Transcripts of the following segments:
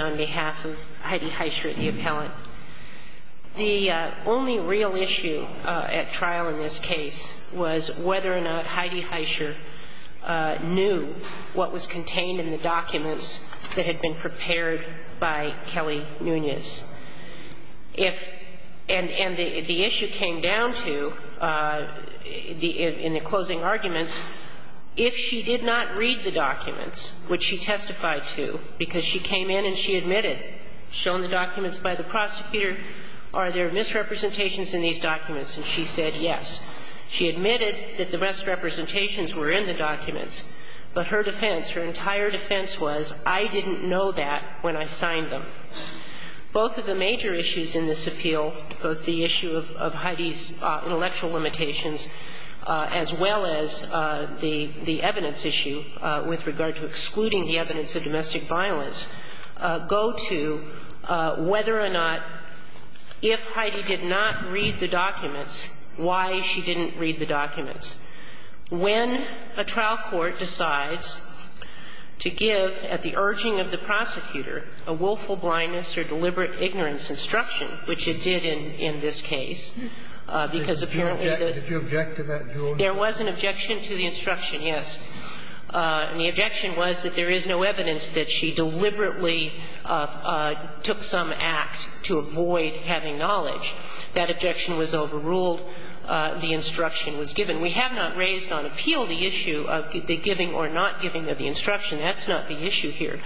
on behalf of Heidi Haischer, the appellant. The only real issue at trial in this case was whether or not Heidi Haischer knew what was contained in the documents that had been prepared by Kelly Nunez. And the issue came down to, in the closing arguments, if she did not read the documents, which she testified to, because she came in and she admitted, shown the documents by the prosecutor, are there misrepresentations in these documents? And she said yes. She admitted that the misrepresentations were in the documents, but her defense, her entire defense was, I didn't know that when I signed them. Both of the major issues in this appeal, both the issue of Heidi's intellectual limitations as well as the evidence issue with regard to excluding the evidence of domestic violence, go to whether or not, if Heidi did not read the documents, why she didn't read the documents. When a trial court decides to give, at the urging of the prosecutor, a willful blindness or deliberate ignorance instruction, which it did in this case, because apparently the — Did you object to that, Julie? There was an objection to the instruction, yes. And the objection was that there is no evidence that she deliberately took some act to avoid having knowledge. That objection was overruled. The instruction was given. We have not raised on appeal the issue of the giving or not giving of the instruction. That's not the issue here.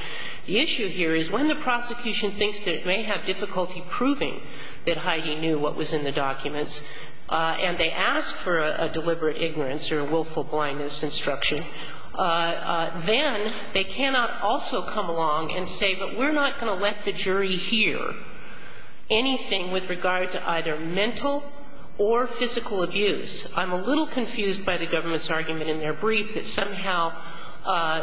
The issue here is when the prosecution thinks that it may have difficulty proving that Heidi knew what was in the documents and they ask for a deliberate ignorance or willful blindness instruction, then they cannot also come along and say, but we're not going to let the jury hear anything with regard to either mental or physical abuse. I'm a little confused by the government's argument in their brief that somehow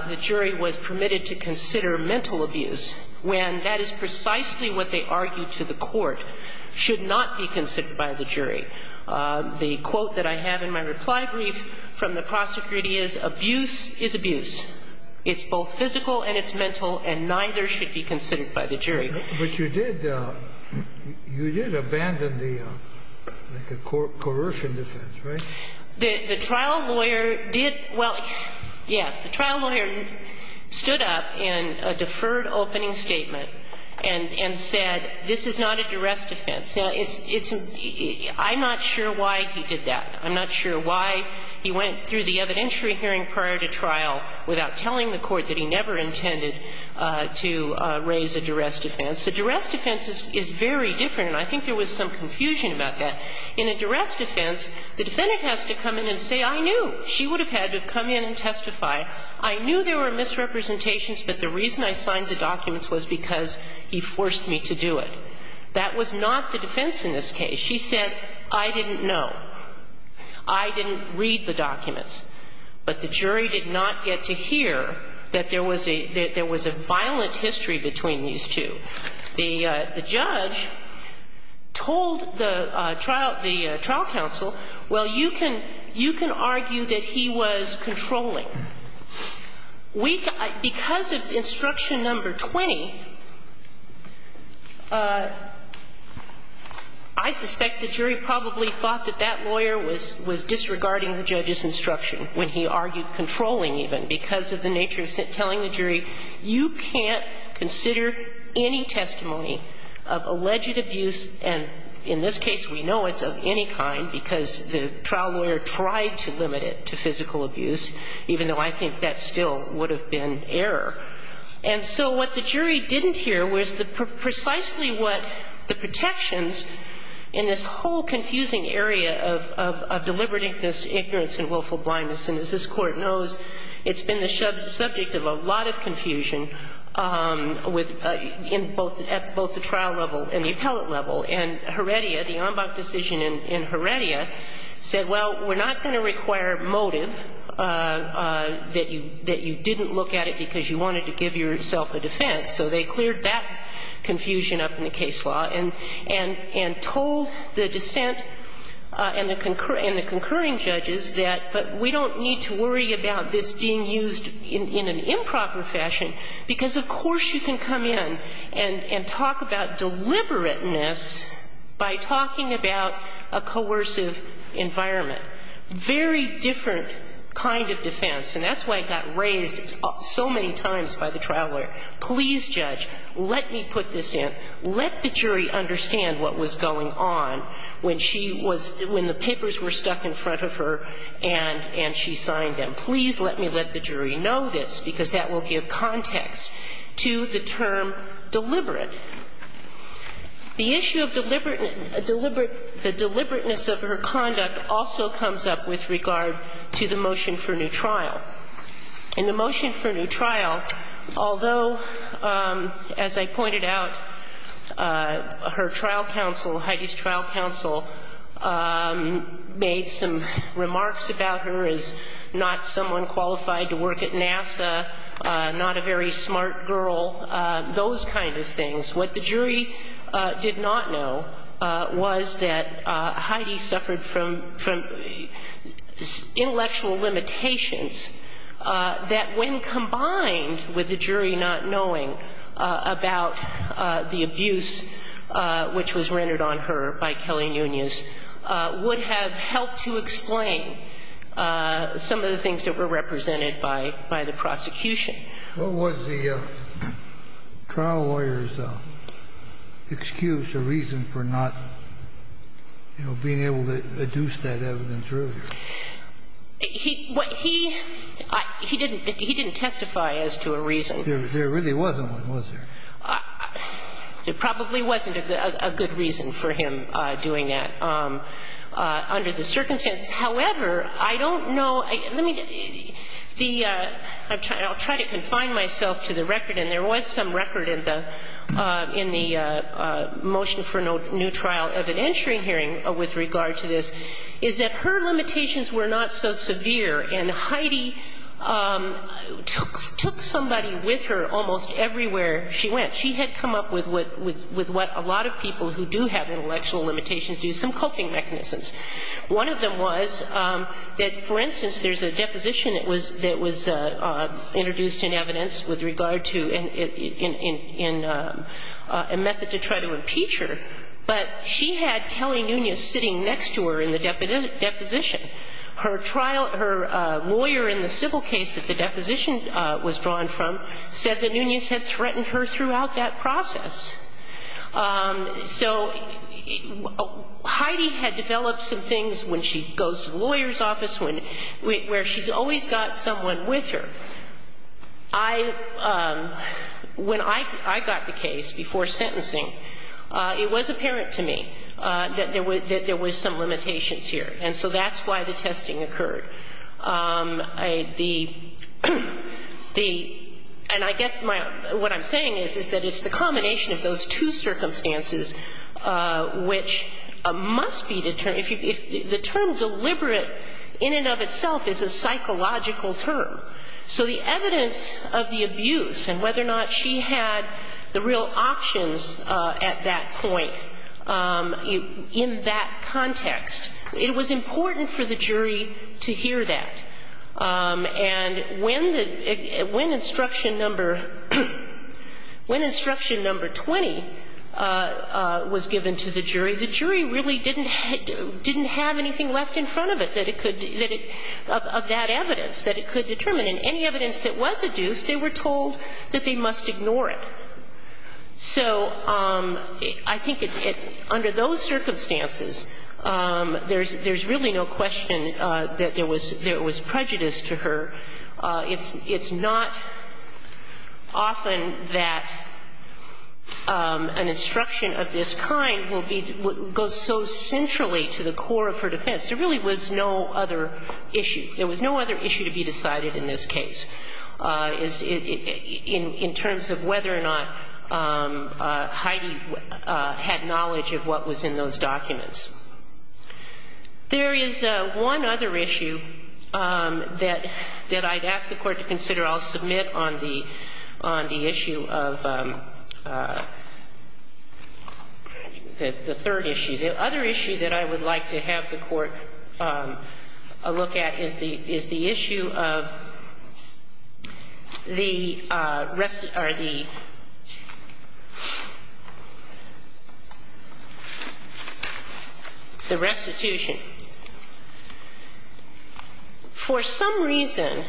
the jury was permitted to consider mental abuse, when that is precisely what they argued to the court should not be considered by the jury. The quote that I have in my reply brief from the prosecutor is, abuse is abuse. It's both physical and it's mental, and neither should be considered by the jury. But you did abandon the coercion defense, right? The trial lawyer did — well, yes. The trial lawyer stood up in a deferred opening statement and said, this is not a duress defense. Now, it's — I'm not sure why he did that. I'm not sure why he went through the evidentiary hearing prior to trial without telling the court that he never intended to raise a duress defense. A duress defense is very different, and I think there was some confusion about that. In a duress defense, the defendant has to come in and say, I knew. She would have had to come in and testify. I knew there were misrepresentations, but the reason I signed the documents was because he forced me to do it. That was not the defense in this case. She said, I didn't know. I didn't read the documents. But the jury did not get to hear that there was a violent history between these two. The judge told the trial counsel, well, you can argue that he was controlling. Because of instruction number 20, I suspect the jury probably thought that that lawyer was disregarding the judge's instruction. When he argued controlling, even, because of the nature of telling the jury, you can't consider any testimony of alleged abuse. And in this case, we know it's of any kind because the trial lawyer tried to limit it to physical abuse, even though I think that still would have been error. And so what the jury didn't hear was precisely what the protections in this whole confusing area of deliberate ignorance and willful blindness. And as this Court knows, it's been the subject of a lot of confusion with at both the trial level and the appellate level. And Heredia, the Ambach decision in Heredia, said, well, we're not going to require motive that you didn't look at it because you wanted to give yourself a defense. So they cleared that confusion up in the case law and told the dissent and the concurring judges that, but we don't need to worry about this being used in an improper fashion, because of course you can come in and talk about deliberateness by talking about a coercive environment, very different kind of defense. And that's why it got raised so many times by the trial lawyer. Please, Judge, let me put this in. Let the jury understand what was going on when she was – when the papers were stuck in front of her and she signed them. Please let me let the jury know this, because that will give context to the term deliberate. The issue of deliberate – deliberate – the deliberateness of her conduct also comes up with regard to the motion for new trial. In the motion for new trial, although, as I pointed out, her trial counsel, Heidi's trial counsel, made some remarks about her as not someone qualified to work at NASA, not a very smart girl, those kind of things. What the jury did not know was that Heidi suffered from – from intellectual limitations that, when combined with the jury not knowing about the abuse which was rendered on her by Kelly Nunez, would have helped to explain some of the things that were represented by – by the prosecution. What was the trial lawyer's excuse or reason for not, you know, being able to adduce that evidence earlier? He – what he – he didn't – he didn't testify as to a reason. There really wasn't one, was there? There probably wasn't a good reason for him doing that under the circumstances. However, I don't know – let me – the – I'll try to confine myself to the record, and there was some record in the – in the motion for new trial of an entry hearing with regard to this, is that her limitations were not so severe. And Heidi took – took somebody with her almost everywhere she went. She had come up with what – with what a lot of people who do have intellectual limitations do, some coping mechanisms. One of them was that, for instance, there's a deposition that was – that was introduced in evidence with regard to – in – in – in a method to try to impeach her. But she had Kelly Nunez sitting next to her in the deposition. Her trial – her lawyer in the civil case that the deposition was drawn from said that Nunez had threatened her throughout that process. So Heidi had developed some things when she goes to the lawyer's office when – where she's always got someone with her. I – when I – I got the case before sentencing, it was apparent to me that there were – that there were some limitations here. And so that's why the testing occurred. The – the – and I guess my – what I'm saying is, is that it's the combination of those two circumstances which must be determined – if you – if the term deliberate in and of itself is a psychological term. So the evidence of the abuse and whether or not she had the real options at that point in that context, it was important for the jury to hear that. And when the – when instruction number – when instruction number 20 was given to the jury, the jury really didn't – didn't have anything left in front of it that it could – that it – of that evidence that it could determine. And any evidence that was adduced, they were told that they must ignore it. So I think it – under those circumstances, there's – there's really no question that there was – there was prejudice to her. It's not often that an instruction of this kind will be – goes so centrally to the core of her defense. There really was no other issue. There was no other issue to be decided in this case in terms of whether or not Heidi had knowledge of what was in those documents. There is one other issue that – that I'd ask the Court to consider. I'll submit on the – on the issue of the third issue. The other issue that I would like to have the Court look at is the – is the issue of the – or the restitution. For some reason,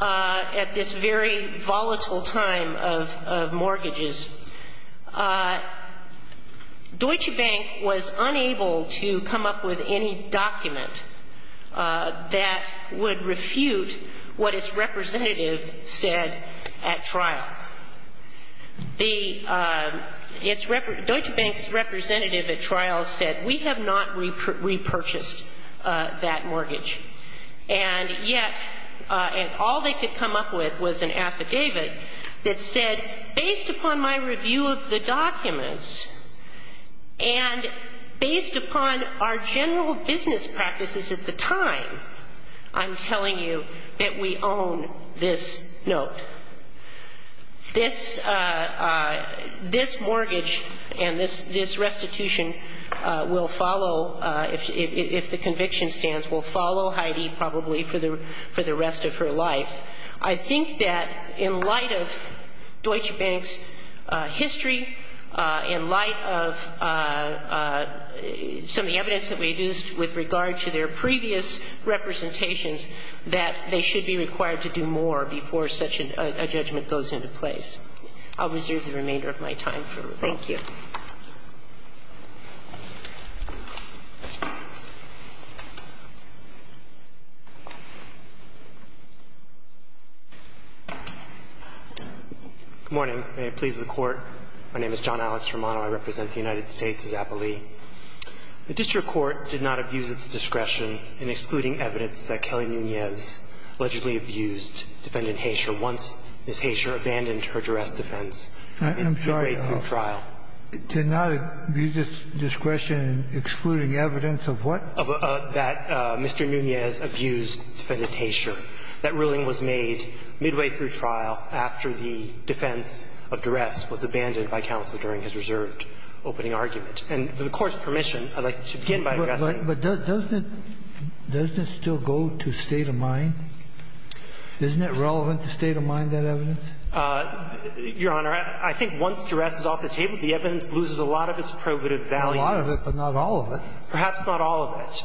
at this very volatile time of – of mortgages, Deutsche Bank was unable to come up with any document that would refute what its representative said at trial. The – it's – Deutsche Bank's representative at trial said, we have not repurchased that mortgage. And yet – and all they could come up with was an affidavit that said, based upon my review of the documents and based upon our general business practices at the time, I'm telling you that we own this note. This – this mortgage and this restitution will follow, if the conviction stands, will follow Heidi probably for the rest of her life. I think that in light of Deutsche Bank's history, in light of some of the evidence that we've used with regard to their previous representations, that they should be required to do more before such a judgment goes into place. I'll reserve the remainder of my time for review. Thank you. Good morning. May it please the Court. My name is John Alex Romano. I represent the United States as appellee. The district court did not abuse its discretion in excluding evidence that Kelly Nunez allegedly abused Defendant Haysher once Ms. Haysher abandoned her duress defense in midway through trial. I'm sorry. It did not abuse its discretion in excluding evidence of what? Of that Mr. Nunez abused Defendant Haysher. That ruling was made midway through trial after the defense of duress was abandoned by counsel during his reserved opening argument. And with the Court's permission, I'd like to begin by addressing. But doesn't it still go to state of mind? Isn't it relevant to state of mind, that evidence? Your Honor, I think once duress is off the table, the evidence loses a lot of its probative value. A lot of it, but not all of it. Perhaps not all of it.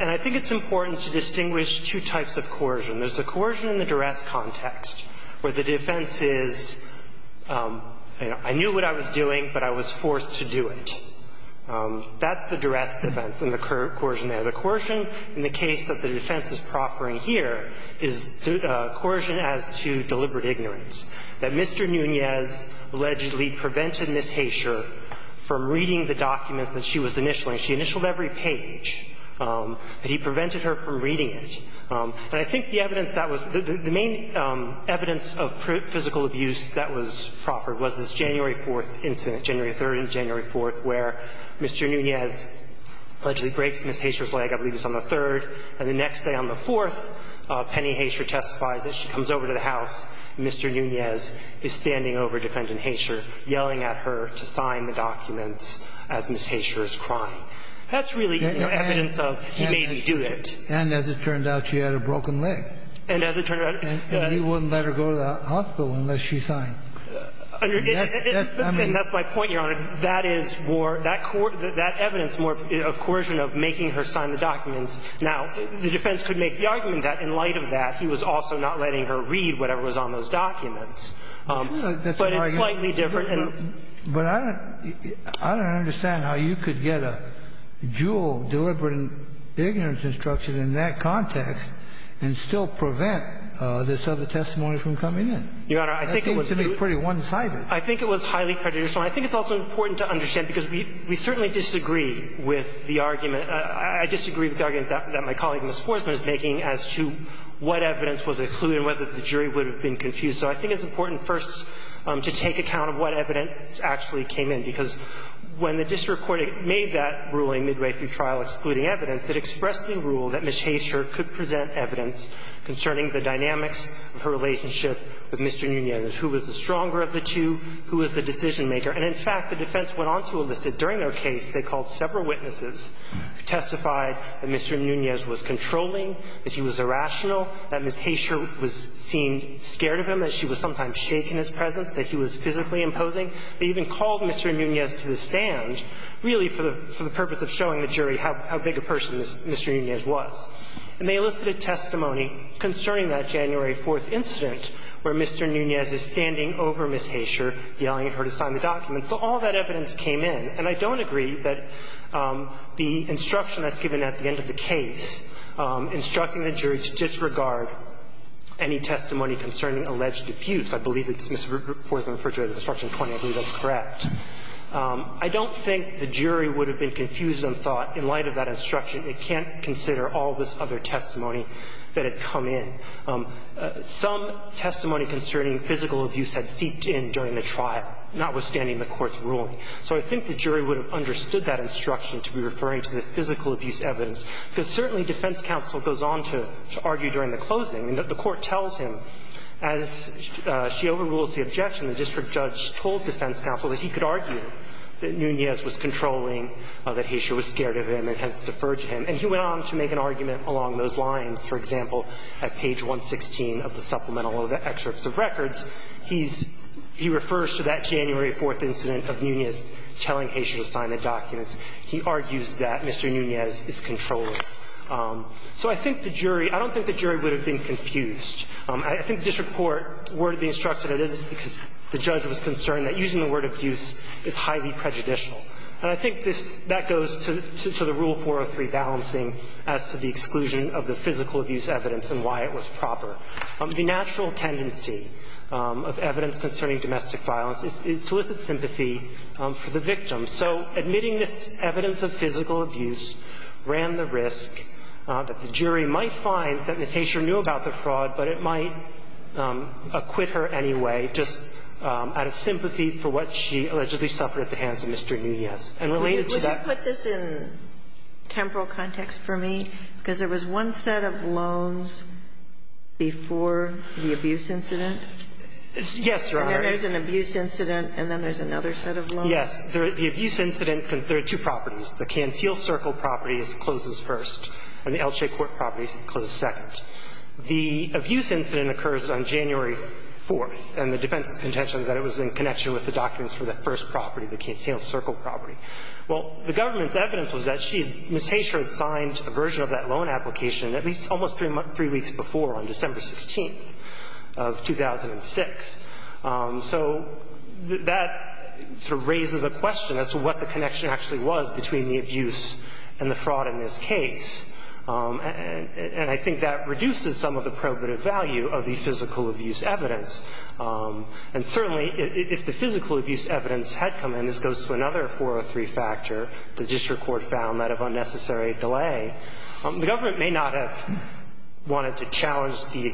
And I think it's important to distinguish two types of coercion. There's the coercion in the duress context, where the defense is, you know, I knew what I was doing, but I was forced to do it. That's the duress defense and the coercion there. The coercion in the case that the defense is proffering here is coercion as to deliberate ignorance, that Mr. Nunez allegedly prevented Ms. Haysher from reading the documents that she was initialing. She initialed every page, but he prevented her from reading it. And I think the evidence that was the main evidence of physical abuse that was proffered was this January 4th incident, January 3rd and January 4th, where Mr. Nunez allegedly breaks Ms. Haysher's leg, I believe it was on the 3rd. And the next day on the 4th, Penny Haysher testifies that she comes over to the house. Mr. Nunez is standing over Defendant Haysher, yelling at her to sign the documents as Ms. Haysher is crying. That's really evidence of he made me do it. And as it turns out, she had a broken leg. And as it turns out he wouldn't let her go to the hospital unless she signed. And that's my point, Your Honor. That is more, that evidence is more of coercion of making her sign the documents. Now, the defense could make the argument that in light of that, he was also not letting her read whatever was on those documents. But it's slightly different. But I don't understand how you could get a dual deliberate ignorance instruction in that context and still prevent this other testimony from coming in. Your Honor, I think it was pretty one-sided. I think it was highly prejudicial. And I think it's also important to understand, because we certainly disagree with the argument. I disagree with the argument that my colleague, Ms. Forsman, is making as to what evidence was excluded and whether the jury would have been confused. So I think it's important, first, to take account of what evidence actually came in, because when the district court made that ruling midway through trial excluding evidence, it expressed the rule that Ms. Haysher could present evidence concerning the dynamics of her relationship with Mr. Nunez, who was the stronger of the two, who was the decision-maker. And in fact, the defense went on to enlist that during their case they called several witnesses who testified that Mr. Nunez was controlling, that he was irrational, that Ms. Haysher seemed scared of him, that she was sometimes shaken in his presence, that he was physically imposing. They even called Mr. Nunez to the stand, really for the purpose of showing the jury how big a person Mr. Nunez was. And they elicited testimony concerning that January 4th incident where Mr. Nunez is standing over Ms. Haysher, yelling at her to sign the document. So all that evidence came in. And I don't agree that the instruction that's given at the end of the case instructing the jury to disregard any testimony concerning alleged abuse. I believe it's Ms. Forsman's instruction 20. I believe that's correct. I don't think the jury would have been confused on thought in light of that instruction. It can't consider all this other testimony that had come in. Some testimony concerning physical abuse had seeped in during the trial, notwithstanding the Court's ruling. So I think the jury would have understood that instruction to be referring to the physical abuse evidence, because certainly defense counsel goes on to argue during the closing. The Court tells him, as she overrules the objection, the district judge told defense counsel that he could argue that Nunez was controlling, that Haysher was scared of him and has deferred to him. And he went on to make an argument along those lines. For example, at page 116 of the supplemental or the excerpts of records, he's – he refers to that January 4th incident of Nunez telling Haysher to sign the documents. He argues that Mr. Nunez is controlling. So I think the jury – I don't think the jury would have been confused. I think the district court worded the instruction as it is because the judge was concerned that using the word abuse is highly prejudicial. And I think this – that goes to the Rule 403 balancing as to the exclusion of the physical abuse evidence and why it was proper. The natural tendency of evidence concerning domestic violence is to elicit sympathy for the victim. So admitting this evidence of physical abuse ran the risk that the jury might find that Ms. Haysher knew about the fraud, but it might acquit her anyway just out of sympathy for what she allegedly suffered at the hands of Mr. Nunez. And related to that – Would you put this in temporal context for me? Because there was one set of loans before the abuse incident. Yes, Your Honor. And then there's an abuse incident, and then there's another set of loans. Well, yes. The abuse incident – there are two properties. The Canteel Circle property closes first, and the L.J. Court property closes second. The abuse incident occurs on January 4th, and the defense's contention is that it was in connection with the documents for that first property, the Canteel Circle property. Well, the government's evidence was that she – Ms. Haysher had signed a version of that loan application at least almost three weeks before on December 16th of 2006. So that sort of raises a question as to what the connection actually was between the abuse and the fraud in this case. And I think that reduces some of the probative value of the physical abuse evidence. And certainly, if the physical abuse evidence had come in – this goes to another 403 factor, the district court found that of unnecessary delay – the government may not have wanted to challenge the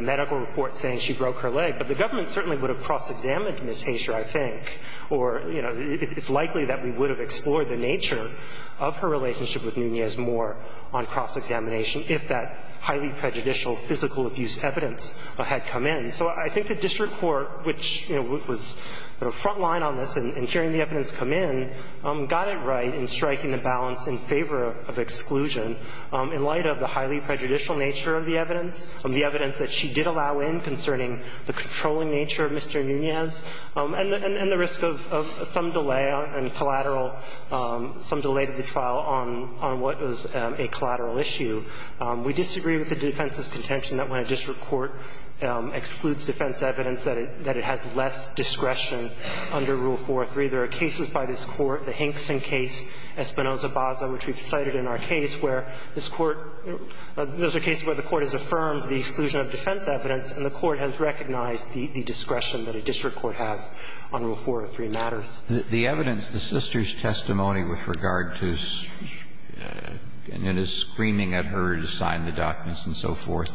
medical report saying she broke her leg, but the government certainly would have cross-examined Ms. Haysher, I think, or, you know, it's likely that we would have explored the nature of her relationship with Nunez-Moore on cross-examination if that highly prejudicial physical abuse evidence had come in. So I think the district court, which, you know, was, you know, front line on this and hearing the evidence come in, got it right in striking the balance in favor of exclusion in light of the highly prejudicial nature of the evidence, the evidence that she did allow in concerning the controlling nature of Mr. Nunez, and the risk of some delay on collateral – some delay to the trial on what was a collateral issue. We disagree with the defense's contention that when a district court excludes defense evidence that it has less discretion under Rule 403. There are cases by this Court, the Hankson case, Espinoza-Baza, which we've cited in our case, where this court has excluded defense evidence and the court has recognized the discretion that a district court has on Rule 403 matters. The evidence, the sister's testimony with regard to Nunez screaming at her to sign the documents and so forth,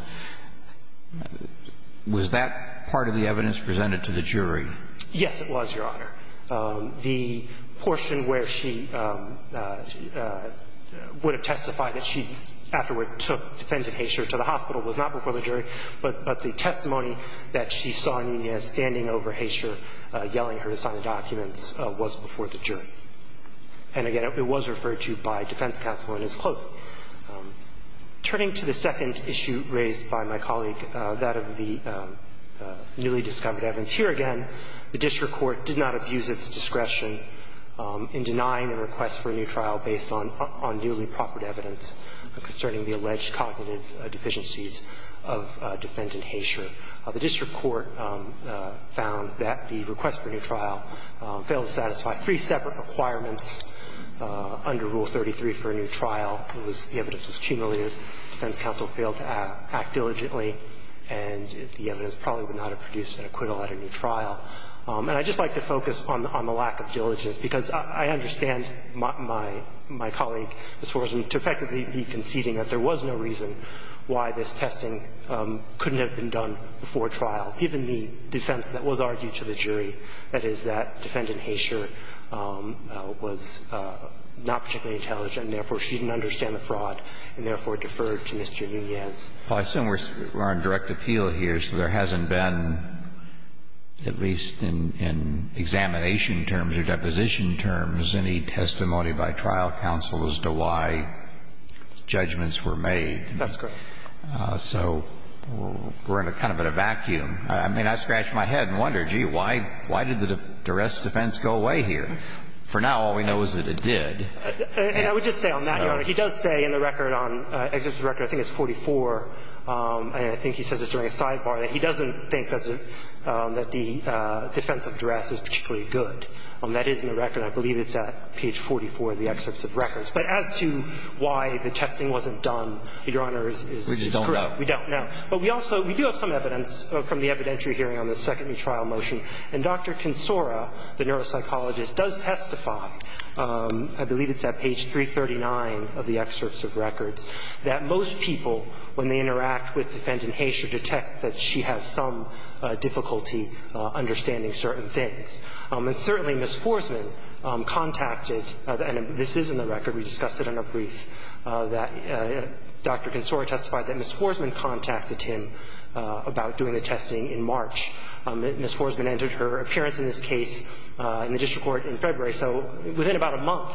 was that part of the evidence presented to the jury? Yes, it was, Your Honor. The portion where she would have testified that she afterward took Defendant Haysher to the hospital was not before the jury, but the testimony that she saw Nunez standing over Haysher yelling her to sign the documents was before the jury. And again, it was referred to by defense counsel and is close. Turning to the second issue raised by my colleague, that of the newly discovered evidence, here again the district court did not abuse its discretion in denying a request for a new trial based on newly proffered evidence concerning the alleged cognitive deficiencies of Defendant Haysher. The district court found that the request for a new trial failed to satisfy three separate requirements under Rule 33 for a new trial. It was the evidence was cumulative, defense counsel failed to act diligently, and the evidence probably would not have produced an acquittal at a new trial. And I'd just like to focus on the lack of diligence, because I understand my colleague, Ms. Forsman, to effectively be conceding that there was no reason why this testing couldn't have been done before trial, given the defense that was argued to the jury, that is that Defendant Haysher was not particularly intelligent, therefore she didn't understand the fraud, and therefore deferred to Mr. Nunez. Well, I assume we're on direct appeal here, so there hasn't been, at least in examination terms or deposition terms, any testimony by trial counsel as to why judgments were made. That's correct. So we're kind of in a vacuum. I mean, I scratch my head and wonder, gee, why did the duress defense go away here? For now, all we know is that it did. And I would just say on that, Your Honor, he does say in the record on excerpt of the record, I think it's 44, and I think he says this during a sidebar, that he doesn't think that the defense of duress is particularly good. That is in the record. I believe it's at page 44 of the excerpt of records. But as to why the testing wasn't done, Your Honor, is screwed. We just don't know. We don't know. But we also do have some evidence from the evidentiary hearing on the second new trial motion. And Dr. Consora, the neuropsychologist, does testify, I believe it's at page 339 of the excerpts of records, that most people, when they interact with Defendant Haysher, detect that she has some difficulty understanding certain things. And certainly, Ms. Forsman contacted, and this is in the record. We discussed it in a brief, that Dr. Consora testified that Ms. Forsman contacted him about doing the testing in March. Ms. Forsman entered her appearance in this case in the district court in February. So within about a month,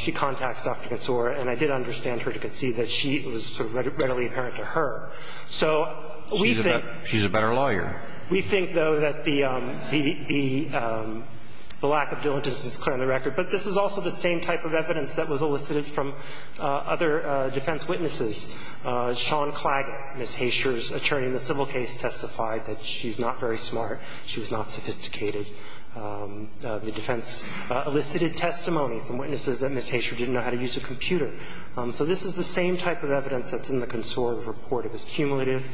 she contacts Dr. Consora. And I did understand her to concede that she was sort of readily apparent to her. So we think that the lack of diligence is clear in the record. But this is also the same type of evidence that was elicited from other defense witnesses. Sean Claggett, Ms. Haysher's attorney in the civil case, testified that she's not very smart. She was not sophisticated. The defense elicited testimony from witnesses that Ms. Haysher didn't know how to use a computer. So this is the same type of evidence that's in the Consora report. It was cumulative.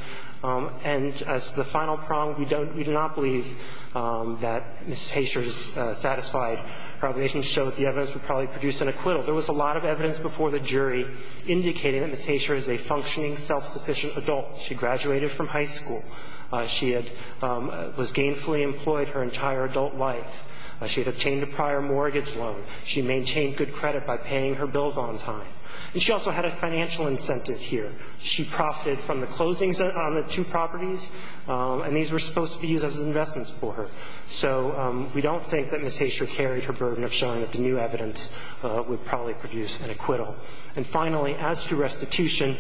And as the final prong, we don't – we do not believe that Ms. Haysher's satisfied probations show that the evidence would probably produce an acquittal. There was a lot of evidence before the jury indicating that Ms. Haysher is a functioning, self-sufficient adult. She graduated from high school. She had – was gainfully employed her entire adult life. She had obtained a prior mortgage loan. She maintained good credit by paying her bills on time. And she also had a financial incentive here. She profited from the closings on the two properties. And these were supposed to be used as investments for her. So we don't think that Ms. Haysher carried her burden of showing that the new evidence would probably produce an acquittal. And finally, as to restitution,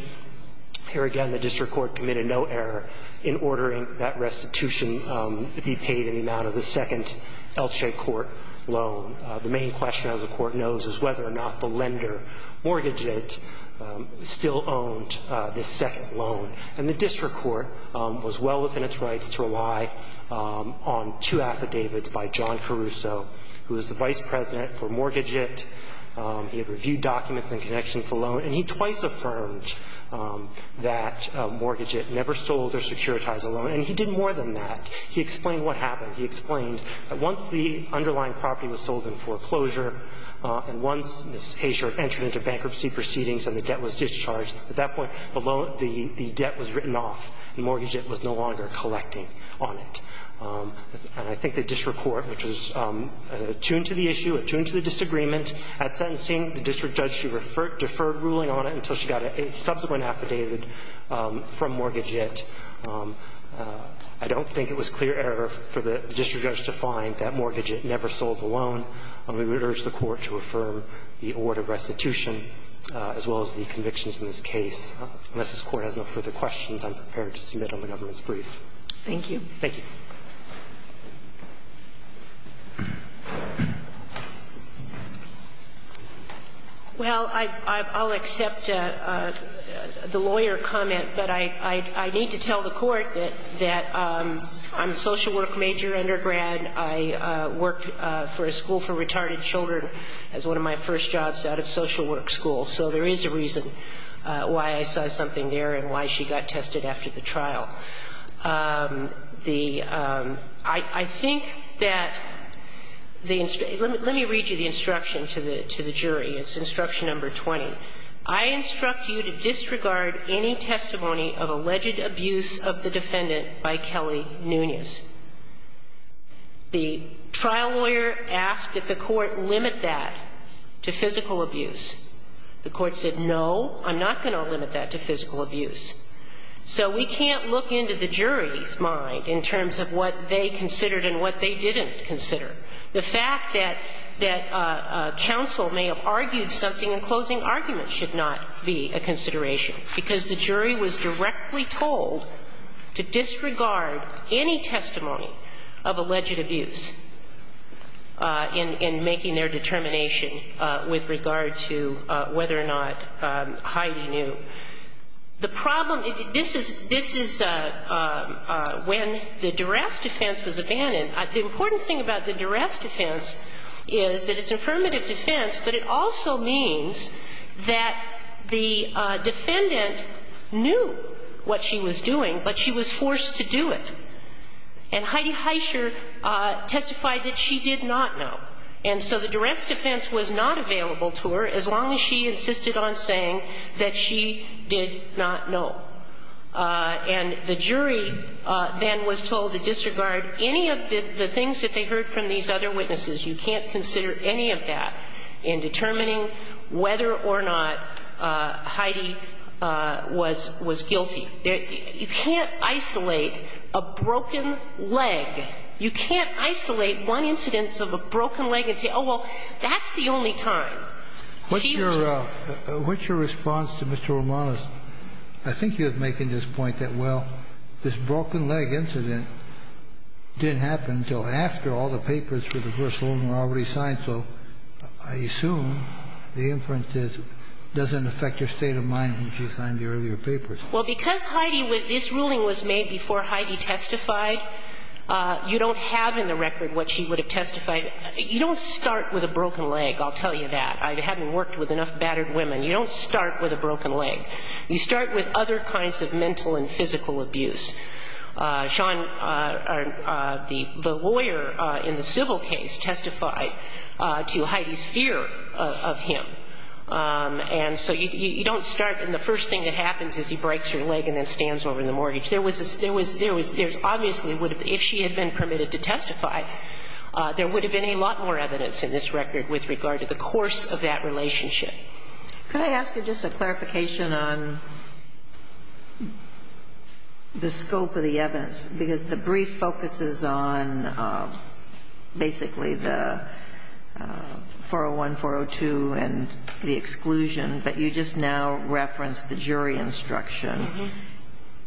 here again the district court committed no error in ordering that restitution be paid in the amount of the second Elche Court loan. The main question, as the Court knows, is whether or not the lender, Mortgaget, still owned this second loan. And the district court was well within its rights to rely on two affidavits by John He had reviewed documents and connections to the loan. And he twice affirmed that Mortgaget never sold or securitized a loan. And he did more than that. He explained what happened. He explained that once the underlying property was sold in foreclosure and once Ms. Haysher entered into bankruptcy proceedings and the debt was discharged, at that point the loan – the debt was written off and Mortgaget was no longer collecting on it. And I think the district court, which was attuned to the issue, attuned to the disagreement at sentencing, the district judge, she deferred ruling on it until she got a subsequent affidavit from Mortgaget. I don't think it was clear error for the district judge to find that Mortgaget never sold the loan. And we would urge the Court to affirm the order of restitution as well as the convictions in this case. Unless this Court has no further questions, I'm prepared to submit on the government's brief. Thank you. Thank you. Well, I'll accept the lawyer comment, but I need to tell the Court that I'm a social work major, undergrad. I worked for a school for retarded children as one of my first jobs out of social work school. So there is a reason why I saw something there and why she got tested after the trial. The – I think that the – let me read you the instruction to the jury. It's instruction number 20. I instruct you to disregard any testimony of alleged abuse of the defendant by Kelly Nunez. The trial lawyer asked that the Court limit that to physical abuse. The Court said, no, I'm not going to limit that to physical abuse. So we can't look into the jury's mind in terms of what they considered and what they didn't consider. The fact that – that counsel may have argued something in closing argument should not be a consideration, because the jury was directly told to disregard any testimony of alleged abuse in making their determination with regard to whether or not Heidi knew. The problem – this is – this is when the duress defense was abandoned. The important thing about the duress defense is that it's affirmative defense, but it also means that the defendant knew what she was doing, but she was forced to do it. And Heidi Heischer testified that she did not know. And so the duress defense was not available to her as long as she insisted on saying that she did not know. And the jury then was told to disregard any of the things that they heard from these other witnesses. You can't consider any of that in determining whether or not Heidi was – was guilty. You can't isolate a broken leg. You can't isolate one incidence of a broken leg and say, oh, well, that's the only time. She was a – What's your – what's your response to Mr. Romanos? I think you're making this point that, well, this broken leg incident didn't happen until after all the papers for the first ruling were already signed. So I assume the inference is it doesn't affect your state of mind when she signed the earlier papers. Well, because Heidi – this ruling was made before Heidi testified, you don't have in the record what she would have testified. You don't start with a broken leg, I'll tell you that. I haven't worked with enough battered women. You don't start with a broken leg. You start with other kinds of mental and physical abuse. Sean, the lawyer in the civil case, testified to Heidi's fear of him. And so you don't start – and the first thing that happens is he breaks her leg and then stands over the mortgage. There was a – there was – there obviously would have – if she had been permitted to testify, there would have been a lot more evidence in this record with regard to the course of that relationship. Can I ask you just a clarification on the scope of the evidence? Because the brief focuses on basically the 401, 402 and the exclusion, but you just now referenced the jury instruction.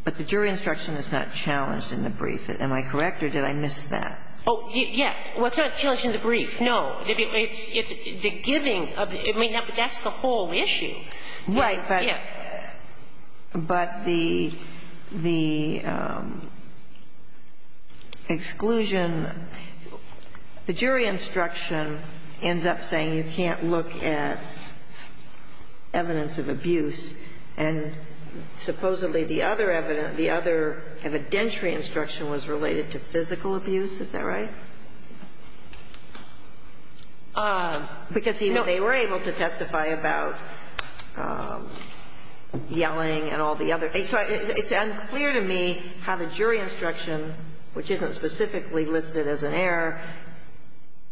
But the jury instruction is not challenged in the brief. Am I correct, or did I miss that? Oh, yeah. Well, it's not challenged in the brief, no. It's the giving of the – I mean, that's the whole issue. Right. But the exclusion – the jury instruction ends up saying you can't look at evidence of abuse, and supposedly the other evident – the other evidentiary instruction was related to physical abuse. Is that right? Because, you know, they were able to testify about yelling and all the other things. So it's unclear to me how the jury instruction, which isn't specifically listed as an error,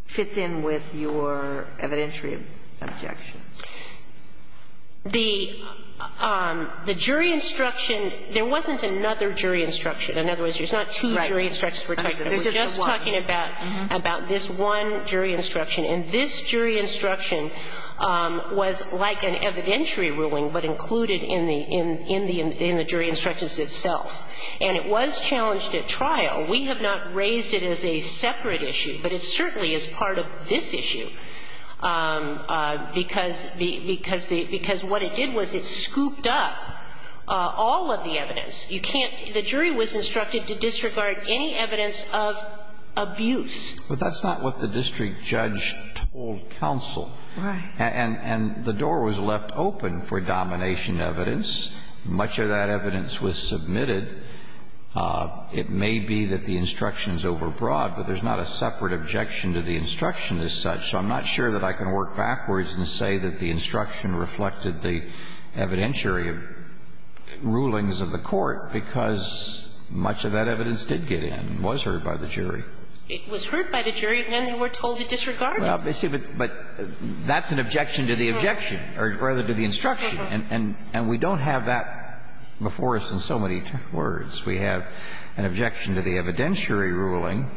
fits in with your evidentiary objection. The jury instruction – there wasn't another jury instruction. In other words, there's not two jury instructions we're talking about. We're just talking about this one jury instruction. And this jury instruction was like an evidentiary ruling, but included in the jury instructions itself. And it was challenged at trial. We have not raised it as a separate issue, but it certainly is part of this issue, because what it did was it scooped up all of the evidence. You can't – the jury was instructed to disregard any evidence of abuse. But that's not what the district judge told counsel. Right. And the door was left open for domination evidence. Much of that evidence was submitted. It may be that the instruction is overbroad, but there's not a separate objection to the instruction as such. So I'm not sure that I can work backwards and say that the instruction reflected the evidentiary rulings of the court, because much of that evidence did get in, was heard by the jury. It was heard by the jury, and then they were told to disregard it. Well, but that's an objection to the objection, or rather to the instruction. And we don't have that before us in so many words. We have an objection to the evidentiary ruling,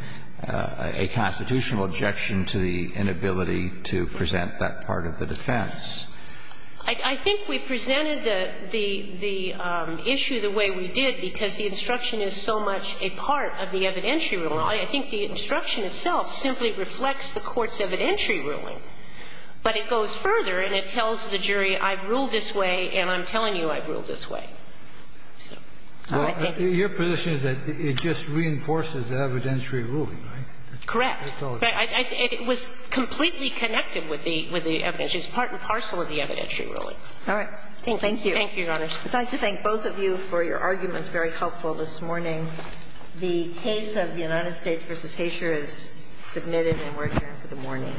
a constitutional objection to the inability to present that part of the defense. I think we presented the issue the way we did because the instruction is so much a part of the evidentiary ruling. I think the instruction itself simply reflects the court's evidentiary ruling. But it goes further, and it tells the jury, I ruled this way, and I'm telling you I ruled this way. So I think it's a part of the evidence. Well, your position is that it just reinforces the evidentiary ruling, right? Correct. It was completely connected with the evidence. It's a part and parcel of the evidentiary ruling. All right. Thank you. Thank you, Your Honor. I'd like to thank both of you for your arguments, very helpful this morning. The case of the United States v. Haysher is submitted, and we're adjourned for the morning.